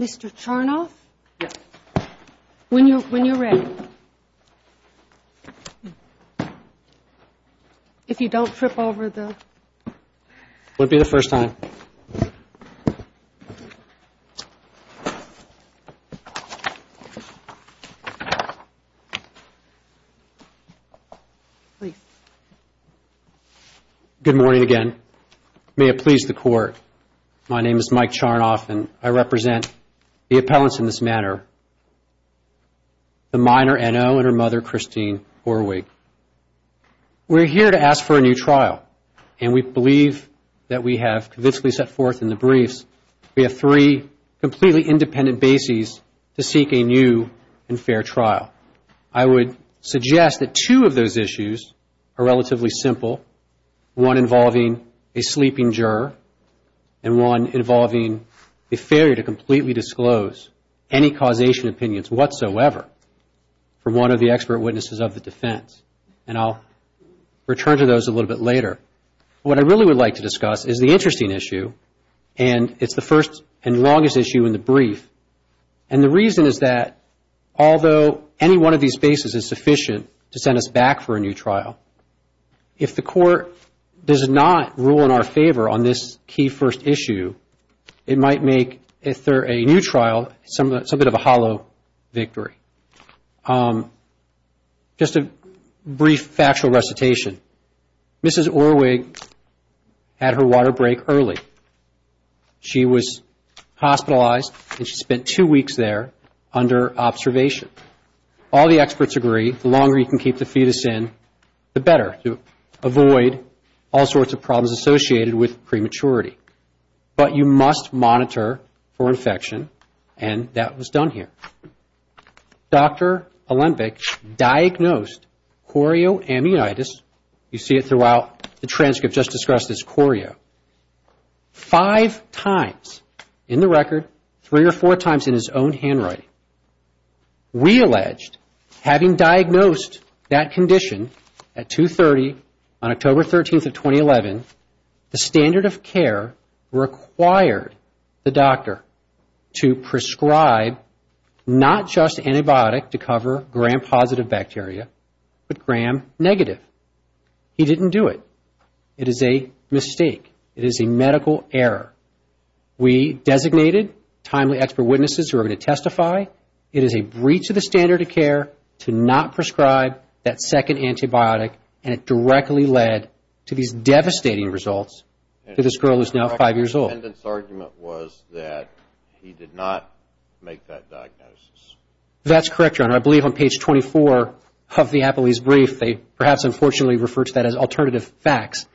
Mr. Chernoff, when you're ready. If you don't trip over the... Good morning again, may it please the Court, my name is Mike Chernoff and I represent the appellants in this manner, the minor N.O. and her mother Christine Horwig. We're here to ask for a new trial and we believe that we have convincingly set forth in the briefs we have three completely independent bases to seek a new and fair trial. I would suggest that two of those issues are relatively simple, one involving a sleeping juror and one involving a failure to completely disclose any causation opinions whatsoever from one of the expert witnesses of the defense and I'll return to those a little bit later. What I really would like to discuss is the interesting issue and it's the first and longest issue in the brief and the reason is that although any one of these bases is sufficient to send us back for a new trial, if the Court does not rule in our favor on this key first issue, it might make a new trial something of a hollow victory. Just a brief factual recitation, Mrs. Horwig had her water break early. She was hospitalized and she spent two weeks there under observation. All the experts agree the longer you can keep the fetus in, the better to avoid all sorts of problems associated with prematurity. But you must monitor for infection and that was done here. Dr. Olembek diagnosed chorioamnitis, you see it throughout the transcript just discussed as chorio, five times in the record, three or four times in his own handwriting. We allege, having diagnosed that condition at 2.30 on October 13th of 2011, the standard of care required the doctor to prescribe not just antibiotic to cover gram-positive bacteria but gram-negative. He didn't do it. It is a mistake. It is a medical error. We designated timely expert witnesses who are going to testify, it is a breach of the standard of care to not prescribe that second antibiotic and it directly led to these devastating results to this girl who is now five years old. The defendant's argument was that he did not make that diagnosis. That's correct, Your Honor. I believe on page 24 of the Apolese brief, they perhaps unfortunately refer to that as alternative facts.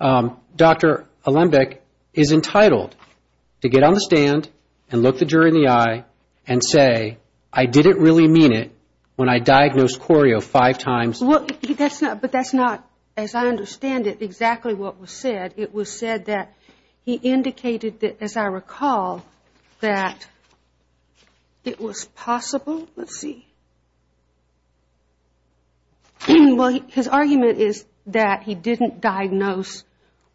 Dr. Olembek is entitled to get on the stand and look the jury in the eye and say, I didn't really mean it when I diagnosed chorio five times. But that's not, as I understand it, exactly what was said. It was said that he indicated that, as I recall, that it was possible, let's see, his argument is that he didn't diagnose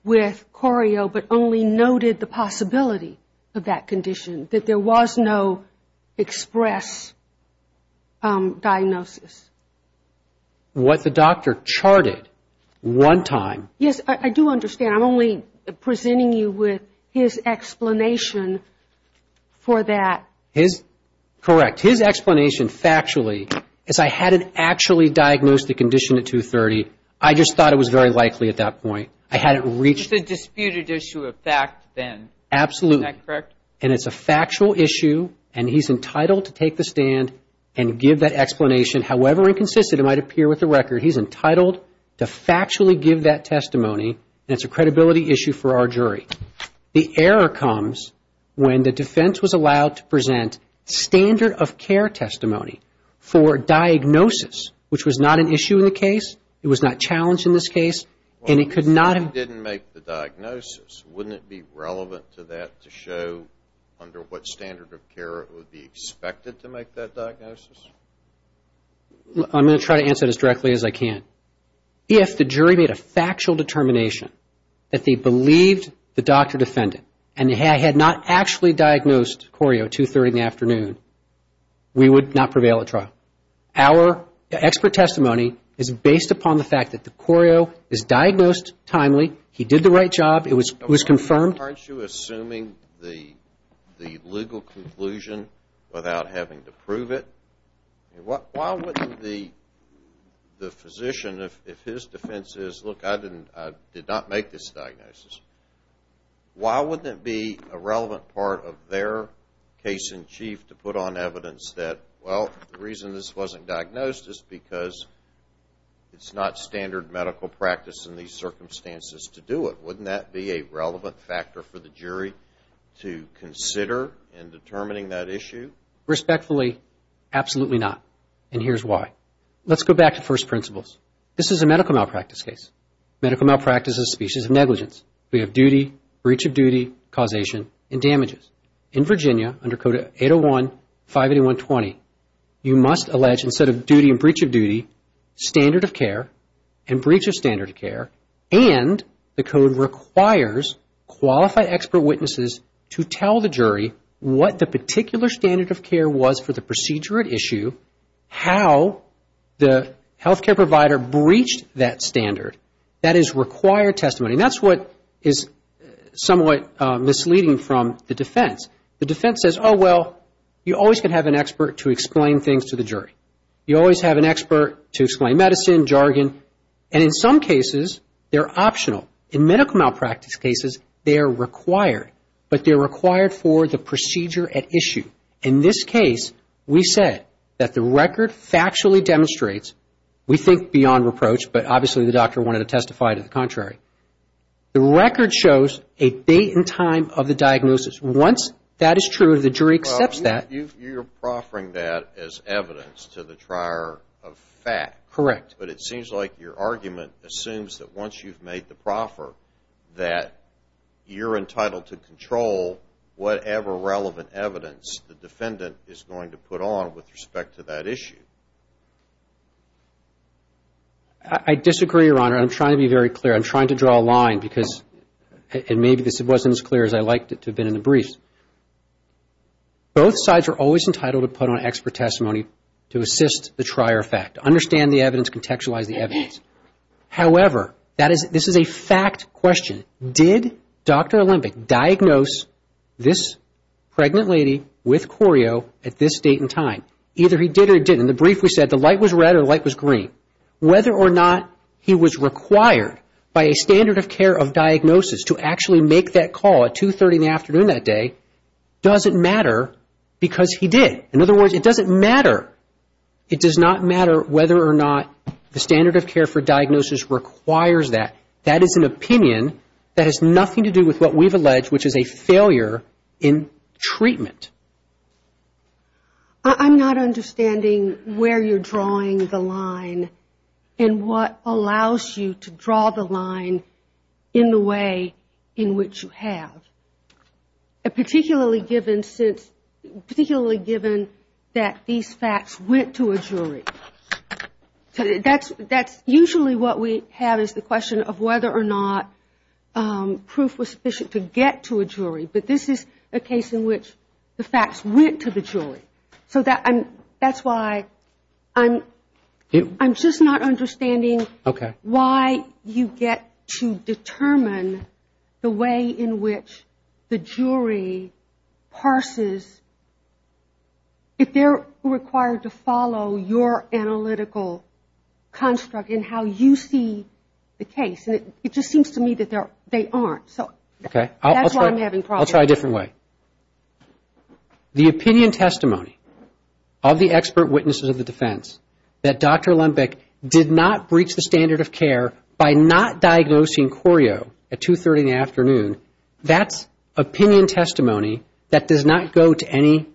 with chorio but only noted the possibility of that condition, that there was no express diagnosis. What the doctor charted one time. Yes, I do understand. I'm only presenting you with his explanation for that. His, correct. His explanation factually is I hadn't actually diagnosed the condition at two-thirty. I just thought it was very likely at that point. I hadn't reached. It's a disputed issue of fact then. Absolutely. Isn't that correct? And it's a factual issue and he's entitled to take the stand and give that explanation, however inconsistent it might appear with the record. He's entitled to factually give that testimony and it's a credibility issue for our jury. The error comes when the defense was allowed to present standard of care testimony for diagnosis, which was not an issue in the case, it was not challenged in this case, and it could not have... Well, if he didn't make the diagnosis, wouldn't it be relevant to that to show under what standard of care it would be expected to make that diagnosis? I'm going to try to answer this as directly as I can. If the jury made a factual determination that they believed the doctor defendant and had not actually diagnosed Corio two-thirty in the afternoon, we would not prevail at trial. Our expert testimony is based upon the fact that the Corio is diagnosed timely. He did the right job. It was confirmed. Aren't you assuming the legal conclusion without having to prove it? Why wouldn't the physician, if his defense is, look, I did not make this diagnosis, why wouldn't it be a relevant part of their case-in-chief to put on evidence that, well, the reason this wasn't diagnosed is because it's not standard medical practice in these circumstances to do it? Wouldn't that be a relevant factor for the jury to consider in determining that issue? Respectfully, absolutely not, and here's why. Let's go back to first principles. This is a medical malpractice case. Medical malpractice is a species of negligence. We have duty, breach of duty, causation, and damages. In Virginia, under code 801-581-20, you must allege instead of duty and breach of duty, standard of care and breach of standard of care, and the code requires qualified expert witnesses to tell the jury what the particular standard of care was for the procedure at issue, how the healthcare provider breached that standard. That is required testimony, and that's what is somewhat misleading from the defense. The defense says, oh, well, you always can have an expert to explain things to the jury. You always have an expert to explain medicine, jargon, and in some cases, they're optional. In medical malpractice cases, they are required, but they're required for the procedure at issue. In this case, we said that the record factually demonstrates, we think beyond reproach, but obviously, the doctor wanted to testify to the contrary. The record shows a date and time of the diagnosis. Once that is true, the jury accepts that. You're proffering that as evidence to the trier of fact. Correct. But it seems like your argument assumes that once you've made the proffer, that you're entitled to control whatever relevant evidence the defendant is going to put on with respect to that issue. I disagree, Your Honor. I'm trying to be very clear. I'm trying to draw a line because, and maybe this wasn't as clear as I'd like it to have been in the brief. Both sides are always entitled to put on expert testimony to assist the trier of fact. To understand the evidence, contextualize the evidence. However, this is a fact question. Did Dr. Olympic diagnose this pregnant lady with choreo at this date and time? Either he did or he didn't. In the brief, we said the light was red or the light was green. Whether or not he was required by a standard of care of diagnosis to actually make that call at 2.30 in the afternoon that day doesn't matter because he did. In other words, it doesn't matter. It does not matter whether or not the standard of care for diagnosis requires that. That is an opinion that has nothing to do with what we've alleged, which is a failure in treatment. I'm not understanding where you're drawing the line and what allows you to draw the line in the way in which you have. Particularly given that these facts went to a jury. That's usually what we have is the question of whether or not proof was sufficient to get to a jury. But this is a case in which the facts went to the jury. So that's why I'm just not understanding why you get to determine the way in which the jury parses. If they're required to follow your analytical construct in how you see the case. And it just seems to me that they aren't. So that's why I'm having problems. I'll try a different way. The opinion testimony of the expert witnesses of the defense that Dr. Lembeck did not breach the standard of care by not diagnosing Corio at 2.30 in the afternoon. That's opinion testimony that does not go to any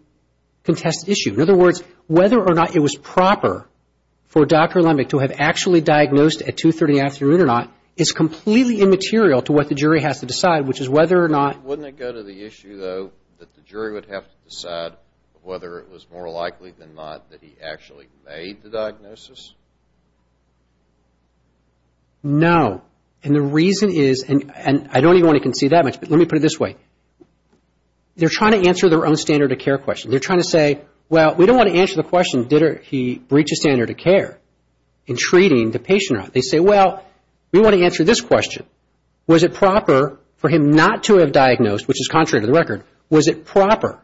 contested issue. In other words, whether or not it was proper for Dr. Lembeck to have actually diagnosed at 2.30 in the afternoon or not is completely immaterial to what the jury has to decide, which is whether or not. Wouldn't it go to the issue, though, that the jury would have to decide whether it was more likely than not that he actually made the diagnosis? No. And the reason is, and I don't even want to concede that much, but let me put it this way. They're trying to answer their own standard of care question. They're trying to say, well, we don't want to answer the question, did he breach a standard of care in treating the patient or not? They say, well, we want to answer this question. Was it proper for him not to have diagnosed, which is contrary to the record, was it proper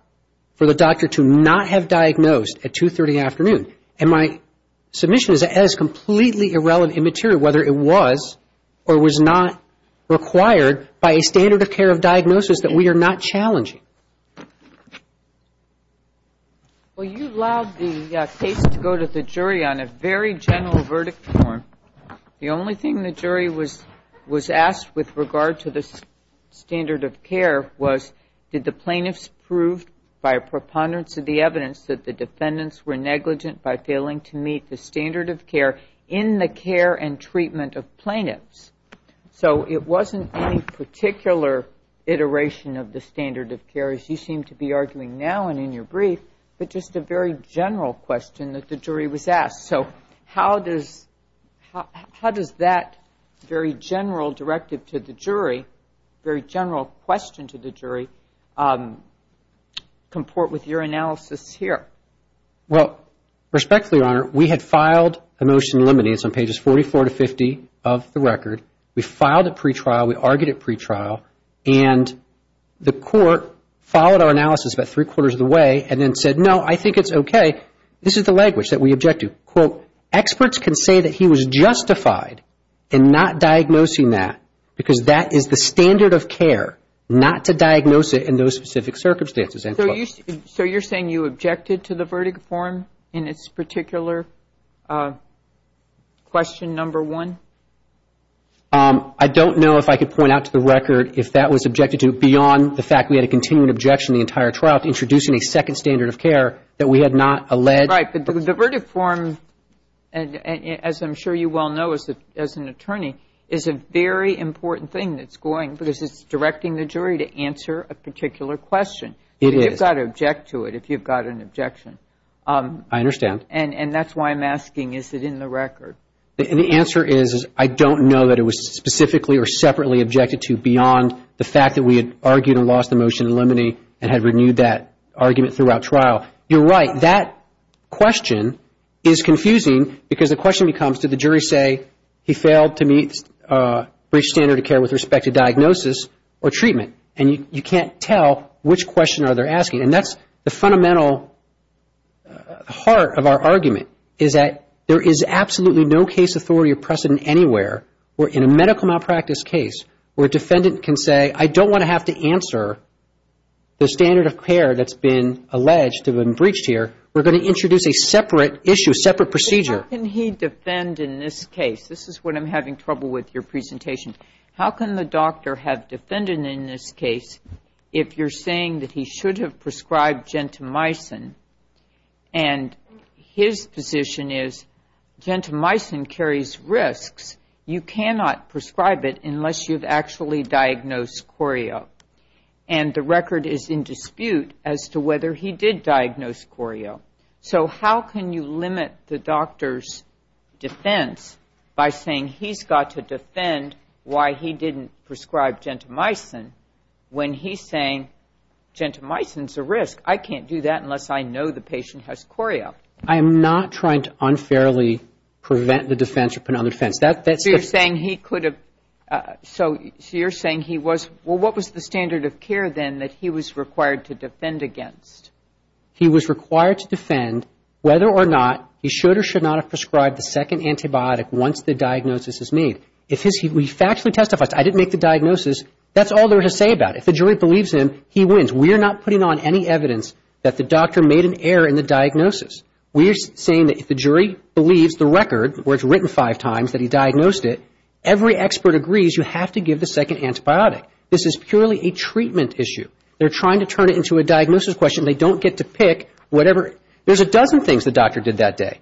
for the doctor to not have diagnosed at 2.30 in the afternoon? And my submission is that that is completely irrelevant, immaterial, whether it was or was not required by a standard of care of diagnosis that we are not challenging. Well, you allowed the case to go to the jury on a very general verdict form. The only thing the jury was asked with regard to the standard of care was, did the plaintiffs prove by a preponderance of the evidence that the defendants were negligent by failing to meet the standard of care in the care and treatment of plaintiffs? So it wasn't any particular iteration of the standard of care, as you seem to be arguing now and in your brief, but just a very general question that the jury was asked. So how does that very general directive to the jury, very general question to the jury, comport with your analysis here? Well, respectfully, Your Honor, we had filed a motion limiting this on pages 44 to 50 of the record. We filed it pretrial. We argued it pretrial. And the court followed our analysis about three-quarters of the way and then said, no, I think it's okay. This is the language that we object to. Quote, experts can say that he was justified in not diagnosing that because that is the standard of care, not to diagnose it in those specific circumstances. So you're saying you objected to the verdict form in its particular question number one? I don't know if I could point out to the record if that was objected to beyond the fact we had a continuing objection the entire trial to introducing a second standard of care that we had not alleged. Right, but the verdict form, as I'm sure you well know as an attorney, is a very important thing that's going, because it's directing the jury to answer a particular question. It is. You've got to object to it if you've got an objection. I understand. And that's why I'm asking, is it in the record? The answer is I don't know that it was specifically or separately objected to beyond the fact that we had argued and lost the motion limiting and had renewed that argument throughout trial. You're right. That question is confusing because the question becomes, did the jury say he failed to meet the standard of care with respect to diagnosis or treatment? And you can't tell which question they're asking. And that's the fundamental heart of our argument is that there is absolutely no case authority or precedent anywhere where in a medical malpractice case where a defendant can say, I don't want to have to answer the standard of care that's been alleged to have been breached here. We're going to introduce a separate issue, a separate procedure. How can he defend in this case? This is what I'm having trouble with your presentation. How can the doctor have defended in this case if you're saying that he should have prescribed gentamicin and his position is gentamicin carries risks. You cannot prescribe it unless you've actually diagnosed choreo. And the record is in dispute as to whether he did diagnose choreo. So how can you limit the doctor's defense by saying he's got to defend why he didn't prescribe gentamicin when he's saying gentamicin is a risk. I can't do that unless I know the patient has choreo. I am not trying to unfairly prevent the defense or put it on the defense. So you're saying he could have, so you're saying he was, well, what was the standard of care then that he was required to defend against? He was required to defend whether or not he should or should not have prescribed the second antibiotic once the diagnosis is made. If he factually testifies, I didn't make the diagnosis, that's all there is to say about it. If the jury believes him, he wins. We are not putting on any evidence that the doctor made an error in the diagnosis. We are saying that if the jury believes the record where it's written five times that he diagnosed it, every expert agrees you have to give the second antibiotic. This is purely a treatment issue. They're trying to turn it into a diagnosis question. They don't get to pick whatever. There's a dozen things the doctor did that day,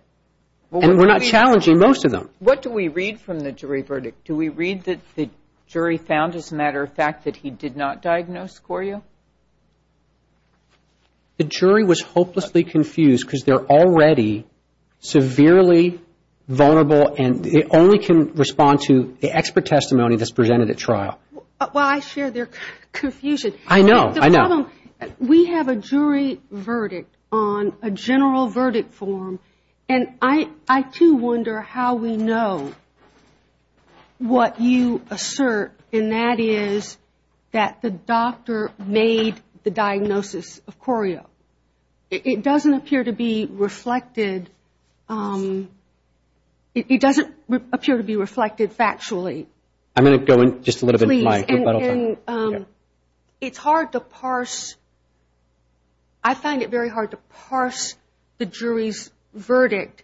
and we're not challenging most of them. What do we read from the jury verdict? Do we read that the jury found, as a matter of fact, that he did not diagnose choreo? The jury was hopelessly confused because they're already severely vulnerable and they only can respond to the expert testimony that's presented at trial. Well, I share their confusion. I know, I know. We have a jury verdict on a general verdict form, and I too wonder how we know what you assert, and that is that the doctor made the diagnosis of choreo. It doesn't appear to be reflected. It doesn't appear to be reflected factually. I'm going to go in just a little bit in my rebuttal time. It's hard to parse. I find it very hard to parse the jury's verdict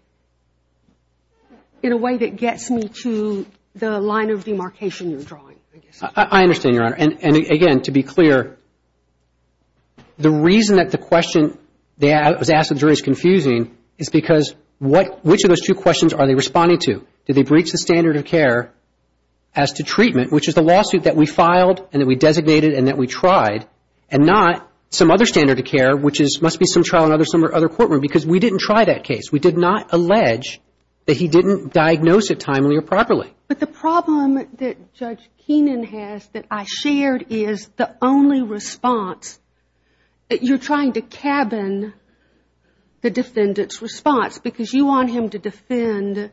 in a way that gets me to the line of demarcation you're drawing. I understand, Your Honor, and again, to be clear, the reason that the question that was asked to the jury is confusing is because which of those two questions are they responding to? Did they breach the standard of care as to treatment, which is the lawsuit that we filed and that we designated and that we tried, and not some other standard of care, which must be some trial in some other courtroom because we didn't try that case. We did not allege that he didn't diagnose it timely or properly. But the problem that Judge Keenan has that I shared is the only response. You're trying to cabin the defendant's response because you want him to defend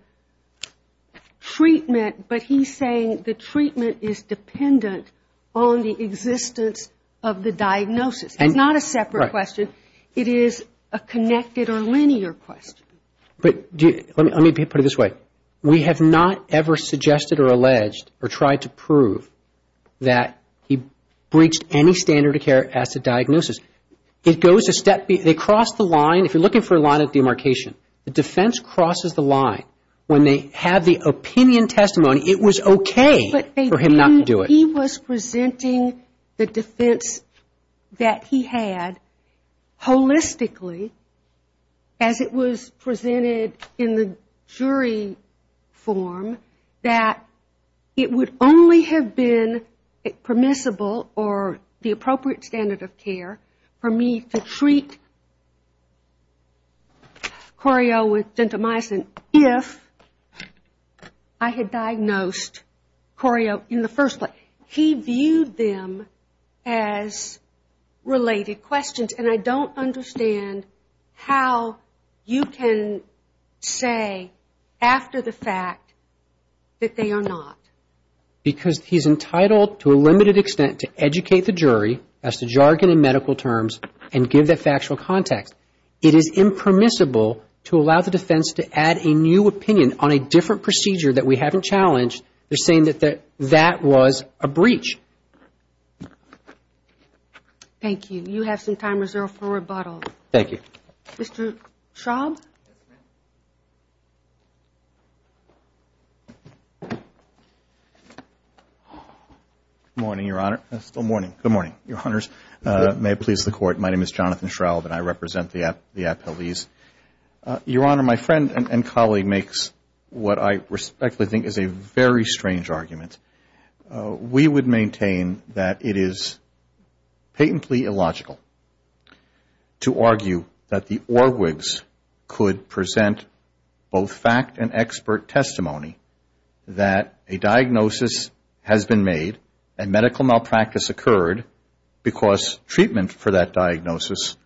treatment, but he's saying the treatment is dependent on the existence of the diagnosis. It's not a separate question. It is a connected or linear question. Let me put it this way. We have not ever suggested or alleged or tried to prove that he breached any standard of care as to diagnosis. They cross the line. If you're looking for a line of demarcation, the defense crosses the line. When they have the opinion testimony, it was okay for him not to do it. He was presenting the defense that he had holistically as it was presented in the jury form that it would only have been permissible or the appropriate standard of care for me to treat Corio with gentamicin if I had diagnosed Corio in the first place. He viewed them as related questions, and I don't understand how you can say after the fact that they are not. Because he's entitled to a limited extent to educate the jury as to jargon and medical terms and give that factual context. It is impermissible to allow the defense to add a new opinion on a different procedure that we haven't challenged. They're saying that that was a breach. Thank you. You have some time reserved for rebuttal. Thank you. Mr. Schraub? Good morning, Your Honor. It's still morning. Good morning, Your Honors. May it please the Court. My name is Jonathan Schraub, and I represent the appellees. Your Honor, my friend and colleague makes what I respectfully think is a very strange argument. We would maintain that it is patently illogical to argue that the ORWGs could present both fact and expert testimony that a diagnosis has been made and medical malpractice occurred because treatment for that diagnosis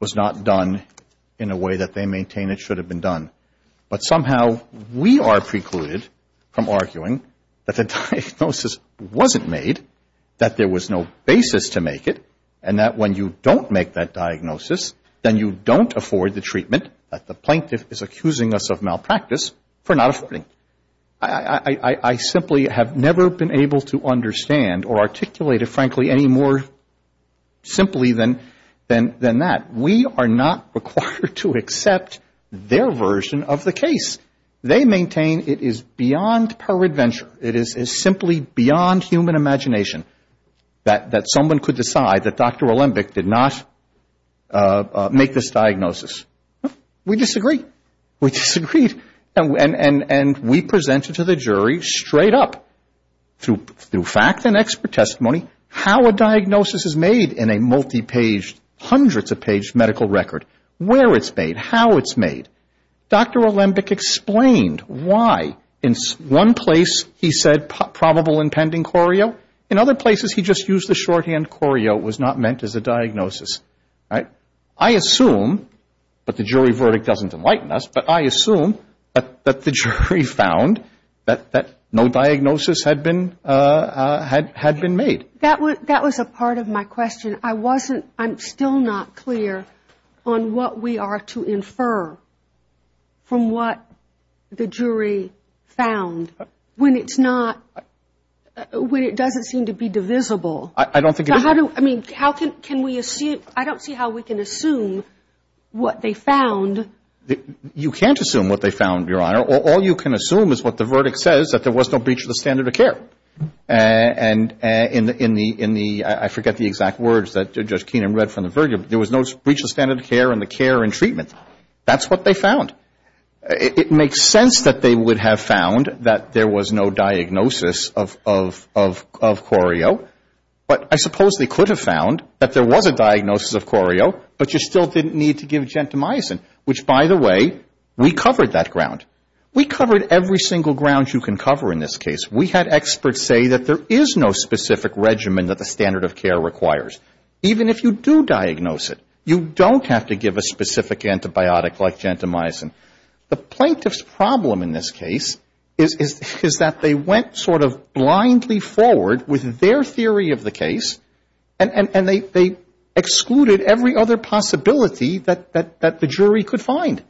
was not done in a way that they maintain it should have been done. But somehow we are precluded from arguing that the diagnosis wasn't made, that there was no basis to make it, and that when you don't make that diagnosis, then you don't afford the treatment that the plaintiff is accusing us of malpractice for not affording. I simply have never been able to understand or articulate it, frankly, any more simply than that. We are not required to accept their version of the case. They maintain it is beyond peradventure. It is simply beyond human imagination that someone could decide that Dr. Alembic did not make this diagnosis. We disagree. We disagreed, and we presented to the jury straight up through fact and expert testimony how a diagnosis is made in a multi-page, hundreds of page medical record, where it's made, how it's made. Dr. Alembic explained why in one place he said probable and pending choreo. In other places he just used the shorthand choreo, it was not meant as a diagnosis. I assume, but the jury verdict doesn't enlighten us, but I assume that the jury found that no diagnosis had been made. That was a part of my question. I'm still not clear on what we are to infer from what the jury found when it's not, when it doesn't seem to be divisible. I don't think it is. I don't see how we can assume what they found. You can't assume what they found, Your Honor. All you can assume is what the verdict says, that there was no breach of the standard of care. And in the, I forget the exact words that Judge Keenan read from the verdict, there was no breach of standard of care in the care and treatment. That's what they found. It makes sense that they would have found that there was no diagnosis of choreo. But I suppose they could have found that there was a diagnosis of choreo, but you still didn't need to give gentamicin, which, by the way, we covered that ground. We covered every single ground you can cover in this case. We had experts say that there is no specific regimen that the standard of care requires. Even if you do diagnose it, you don't have to give a specific antibiotic like gentamicin. The plaintiff's problem in this case is that they went sort of blindly forward with their theory of the case, and they excluded every other possibility that the jury could find.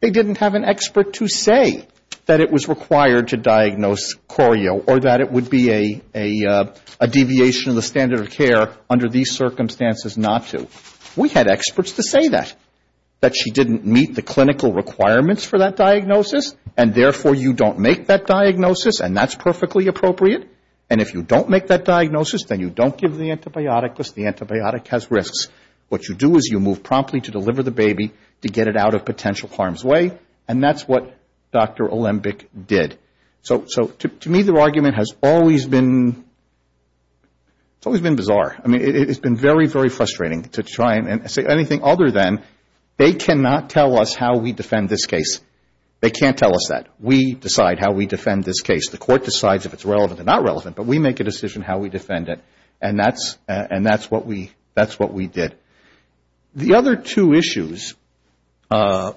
They didn't have an expert to say that it was required to diagnose choreo or that it would be a deviation of the standard of care under these circumstances not to. We had experts to say that, that she didn't meet the clinical requirements for that diagnosis, and therefore you don't make that diagnosis, and that's perfectly appropriate. And if you don't make that diagnosis, then you don't give the antibiotic because the antibiotic has risks. What you do is you move promptly to deliver the baby to get it out of potential harm's way, and that's what Dr. Olembek did. So to me, their argument has always been bizarre. I mean, it's been very, very frustrating to try and say anything other than they cannot tell us how we defend this case. They can't tell us that. We decide how we defend this case. The court decides if it's relevant or not relevant, but we make a decision how we defend it, and that's what we did. The other two issues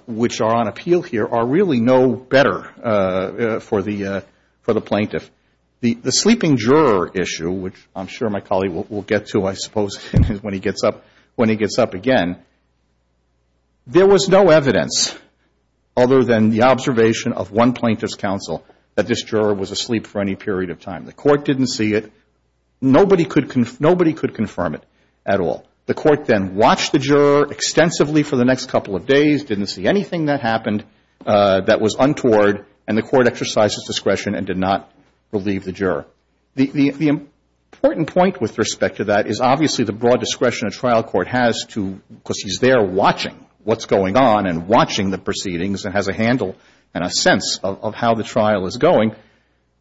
which are on appeal here are really no better for the plaintiff. The sleeping juror issue, which I'm sure my colleague will get to, I suppose, when he gets up again, there was no evidence other than the observation of one plaintiff's counsel that this juror was asleep for any period of time. The court didn't see it. Nobody could confirm it at all. The court then watched the juror extensively for the next couple of days, didn't see anything that happened that was untoward, and the court exercised its discretion and did not relieve the juror. The important point with respect to that is obviously the broad discretion a trial court has to, because he's there watching what's going on and watching the proceedings and has a handle and a sense of how the trial is going.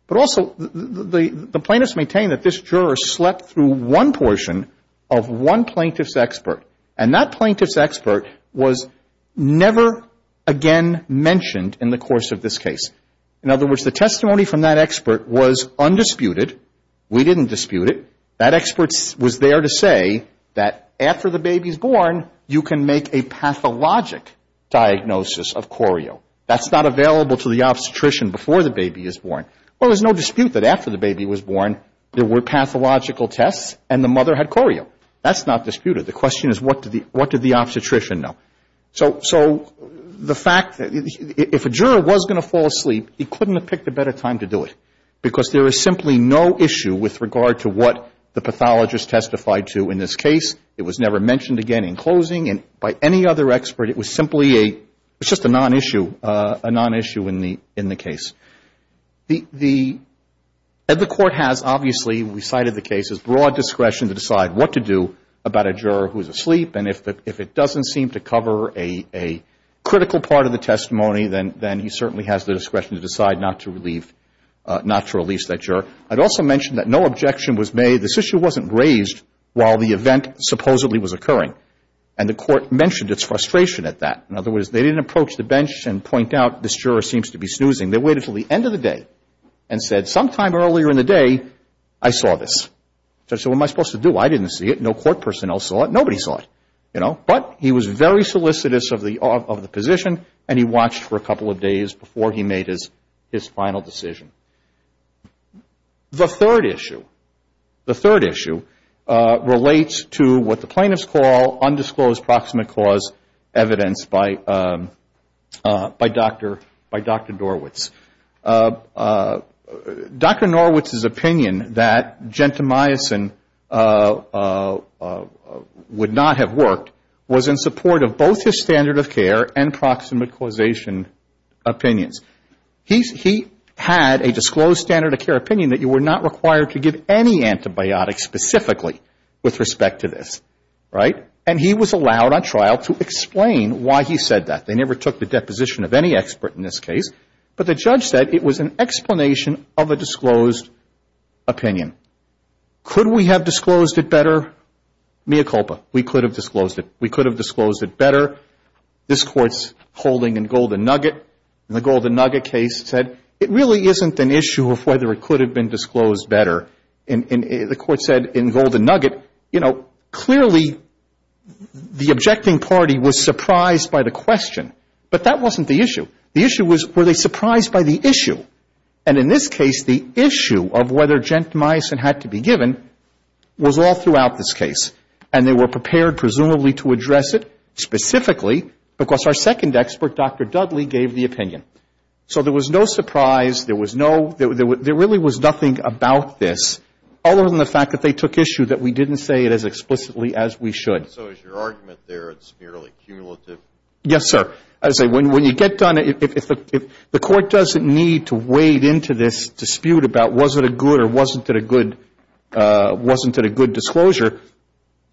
But also the plaintiffs maintain that this juror slept through one portion of one plaintiff's trial. He was a plaintiff's expert, and that plaintiff's expert was never again mentioned in the course of this case. In other words, the testimony from that expert was undisputed. We didn't dispute it. That expert was there to say that after the baby is born, you can make a pathologic diagnosis of choreo. That's not available to the obstetrician before the baby is born. Well, there's no dispute that after the baby was born, there were pathological tests and the mother had choreo. That's not disputed. The question is what did the obstetrician know. So the fact that if a juror was going to fall asleep, he couldn't have picked a better time to do it, because there is simply no issue with regard to what the pathologist testified to in this case. It was never mentioned again in closing, and by any other expert, it was simply a nonissue in the case. The Court has obviously, we cited the case, has broad discretion to decide what to do about a juror who is asleep. And if it doesn't seem to cover a critical part of the testimony, then he certainly has the discretion to decide not to release that juror. I'd also mention that no objection was made. This issue wasn't raised while the event supposedly was occurring. And the Court mentioned its frustration at that. In other words, they didn't approach the bench and point out this juror seems to be snoozing. They waited until the end of the day and said sometime earlier in the day, I saw this. So what am I supposed to do? I didn't see it. No court personnel saw it. Nobody saw it. But he was very solicitous of the position, and he watched for a couple of days before he made his final decision. The third issue relates to what the plaintiffs call undisclosed proximate cause evidence by Dr. Norwitz. Dr. Norwitz's opinion that gentamicin would not have worked was in support of both his standard of care and proximate causation opinions. He had a disclosed standard of care opinion that you were not required to give any antibiotics specifically with respect to this. And he was allowed on trial to explain why he said that. They never took the deposition of any expert in this case, but the judge said it was an explanation of a disclosed opinion. Could we have disclosed it better? Mea culpa, we could have disclosed it. We could have disclosed it better. This Court's holding in Golden Nugget, and the Golden Nugget case said it really isn't an issue of whether it could have been disclosed better. And the Court said in Golden Nugget, you know, clearly the objecting party was surprised by the question. But that wasn't the issue. The issue was, were they surprised by the issue? And in this case, the issue of whether gentamicin had to be given was all throughout this case. And they were prepared, presumably, to address it specifically because our second expert, Dr. Dudley, gave the opinion. So there was no surprise. There was no, there really was nothing about this other than the fact that they took issue that we didn't say it as explicitly as we should. And so is your argument there it's merely cumulative? Yes, sir. As I say, when you get done, if the Court doesn't need to wade into this dispute about was it a good or wasn't it a good disclosure,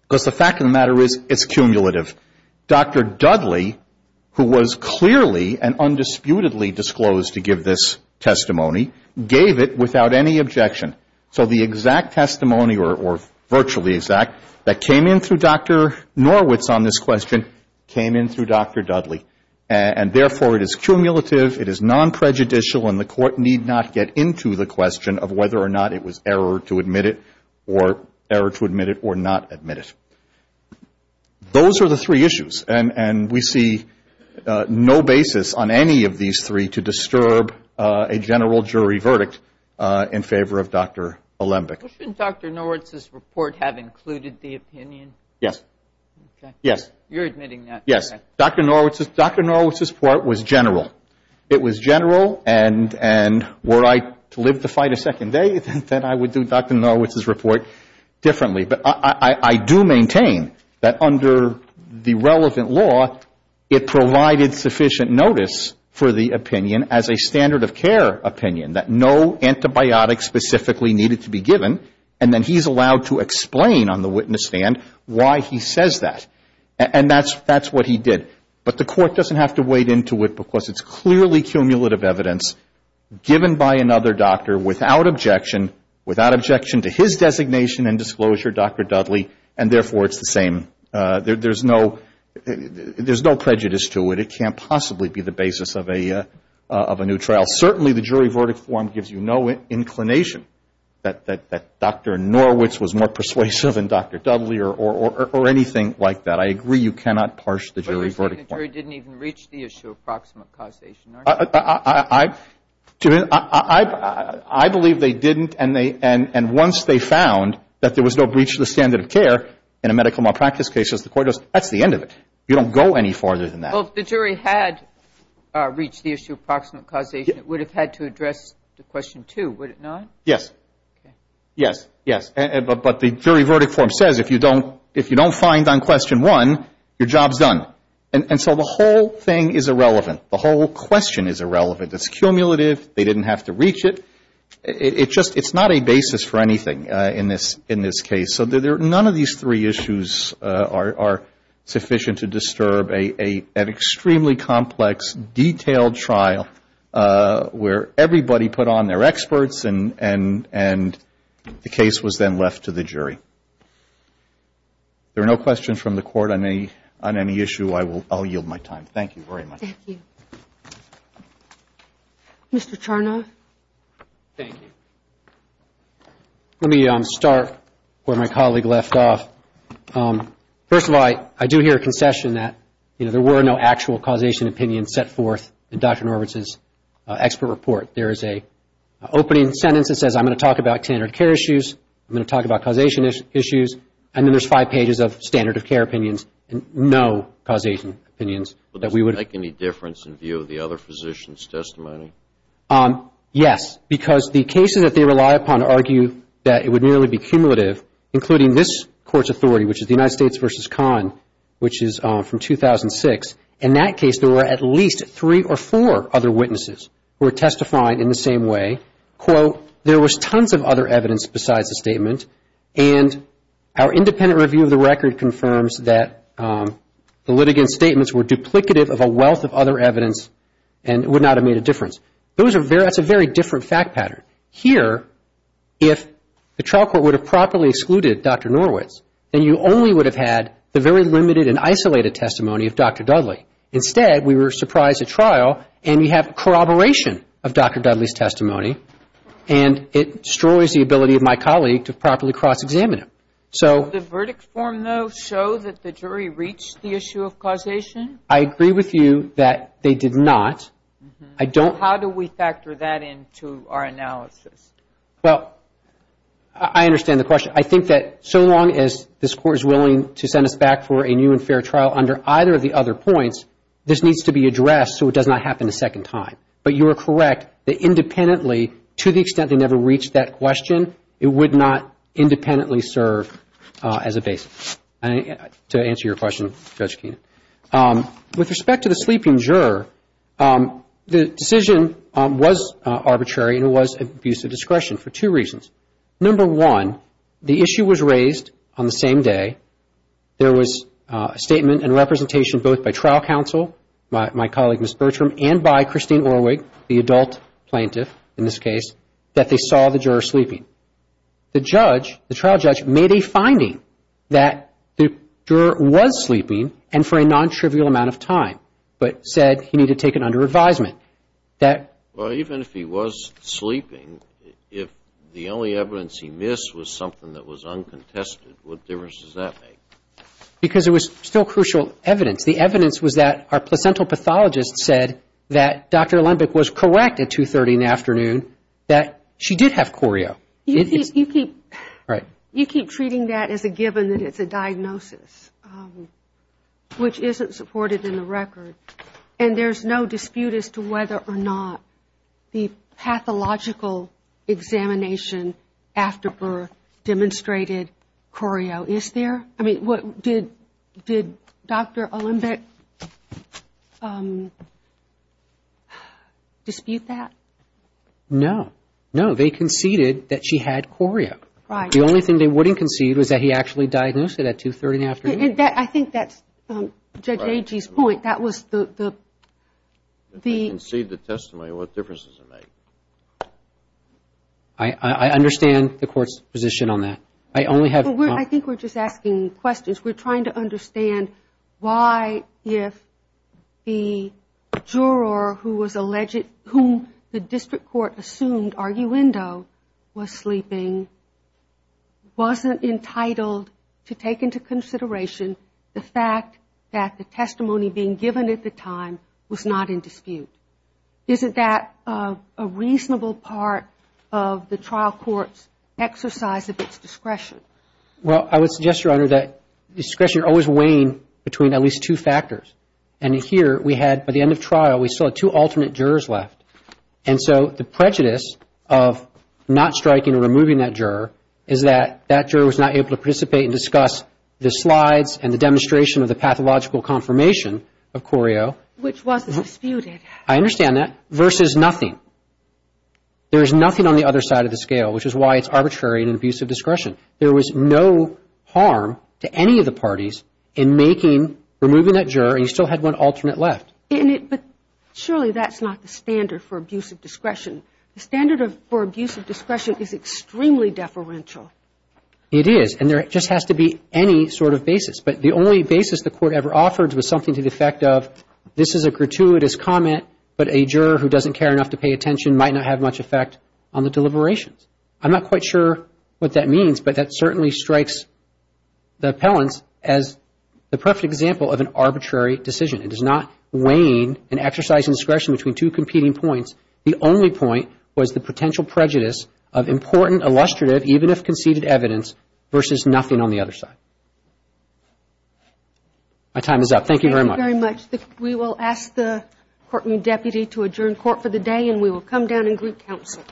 because the fact of the matter is, it's cumulative. Dr. Dudley, who was clearly and undisputedly disclosed to give this testimony, gave it without any objection. So the exact testimony, or virtually exact, that came in through Dr. Norwitz on this question came in through Dr. Dudley. And therefore, it is cumulative, it is non-prejudicial, and the Court need not get into the question of whether or not it was error to admit it or error to admit it or not admit it. Those are the three issues. And we see no basis on any of these three to disturb a general jury verdict in favor of Dr. Alembic. Shouldn't Dr. Norwitz's report have included the opinion? Yes. You're admitting that? Yes. Dr. Norwitz's report was general. It was general, and were I to live to fight a second day, then I would do Dr. Norwitz's report differently. But I do maintain that under the relevant law, it provided sufficient notice for the opinion as a standard of care opinion, that no antibiotics specifically needed to be given, and then he's allowed to explain on the witness stand why he says that. And that's what he did. But the Court doesn't have to wade into it, because it's clearly cumulative evidence given by another doctor without objection, without objection to his designation and disclosure, Dr. Dudley, and therefore, it's the same. There's no prejudice to it. It can't possibly be the basis of a new trial. Certainly, the jury verdict form gives you no inclination that Dr. Norwitz was more persuasive than Dr. Dudley or anything like that. I agree you cannot parse the jury verdict form. But you're saying the jury didn't even reach the issue of proximate causation, aren't you? I believe they didn't, and once they found that there was no breach of the standard of care in a medical malpractice case, as the Court does, that's the end of it. You don't go any farther than that. Well, if the jury had reached the issue of proximate causation, it would have had to address the question, too, would it not? Yes. Yes. But the jury verdict form says if you don't find on question one, your job's done. And so the whole thing is irrelevant. The whole question is irrelevant. It's cumulative. They didn't have to reach it. It's not a basis for anything in this case. So none of these three issues are sufficient to disturb an extremely complex, detailed trial where everybody put on their experts and the case was then left to the jury. There are no questions from the Court on any issue. I'll yield my time. Thank you very much. Let me start where my colleague left off. First of all, I do hear a concession that there were no actual causation opinions set forth in Dr. Norvitz's expert report. There is an opening sentence that says I'm going to talk about standard of care issues, I'm going to talk about causation issues, and then there's five pages of standard of care opinions and no causation opinions that we would Does it make any difference in view of the other physician's testimony? Yes, because the cases that they rely upon argue that it would merely be cumulative, including this Court's authority, which is the United States v. Conn, which is from 2006. In that case, there were at least three or four other witnesses who were testifying in the same way. There was tons of other evidence besides the statement, and our independent review of the record confirms that the litigant's statements were duplicative of a wealth of other evidence and would not have made a difference. That's a very different fact pattern. Here, if the trial court would have properly excluded Dr. Norvitz, then you only would have had the very limited and isolated testimony of Dr. Dudley. Instead, we were surprised at trial, and you have corroboration of Dr. Dudley's testimony, and it destroys the ability of my colleague to properly cross-examine him. Did the verdict form, though, show that the jury reached the issue of causation? I agree with you that they did not. How do we factor that into our analysis? Well, I understand the question. I think that so long as this Court is willing to send us back for a new and fair trial under either of the other points, this needs to be addressed so it does not happen a second time. But you are correct that independently, to the extent they never reached that question, it would not independently serve as a basis. To answer your question, Judge Keenan, with respect to the sleeping juror, the decision was arbitrary and it was an abuse of discretion for two reasons. Number one, the issue was raised on the same day. There was a statement and representation both by trial counsel, my colleague Ms. Bertram, and by Christine Orwig, the adult plaintiff in this case, that they saw the juror sleeping. The trial judge made a finding that the juror was sleeping and for a non-trivial amount of time, but said he needed to take it under advisement. Even if he was sleeping, if the only evidence he missed was something that was uncontested, what difference does that make? Because it was still crucial evidence. The evidence was that our placental pathologist said that Dr. Lundbeck was correct at 2.30 in the afternoon that she did have choreo. You keep treating that as a given that it's a diagnosis, which isn't supported in the record. And there's no dispute as to whether or not the pathological examination after birth demonstrated choreo. Did Dr. Lundbeck dispute that? No, they conceded that she had choreo. The only thing they wouldn't concede was that he actually diagnosed it at 2.30 in the afternoon. I think that's Judge Agee's point. If they concede the testimony, what difference does it make? I understand the court's position on that. I think we're just asking questions. We're trying to understand why, if the juror whom the district court assumed arguendo was sleeping, wasn't entitled to take into consideration the fact that the testimony being done given at the time was not in dispute. Isn't that a reasonable part of the trial court's exercise of its discretion? Well, I would suggest, Your Honor, that discretion always wane between at least two factors. And here we had, by the end of trial, we still had two alternate jurors left. And so the prejudice of not striking or removing that juror is that that juror was not able to participate and discuss the slides and the demonstration of the pathological confirmation of choreo. Which wasn't disputed. I understand that, versus nothing. There is nothing on the other side of the scale, which is why it's arbitrary and an abuse of discretion. There was no harm to any of the parties in making, removing that juror, and you still had one alternate left. But surely that's not the standard for abuse of discretion. The standard for abuse of discretion is extremely deferential. It is, and there just has to be any sort of basis. But the only basis the court ever offered was something to the effect of, this is a gratuitous comment, but a juror who doesn't care enough to pay attention might not have much effect on the deliberations. I'm not quite sure what that means, but that certainly strikes the appellants as the perfect example of an arbitrary decision. It is not weighing an exercise in discretion between two competing points. The only point was the potential prejudice of important, illustrative, even if conceded evidence, versus nothing on the other side. My time is up. Thank you very much. We will ask the Courtroom Deputy to adjourn court for the day, and we will come down and greet counsel.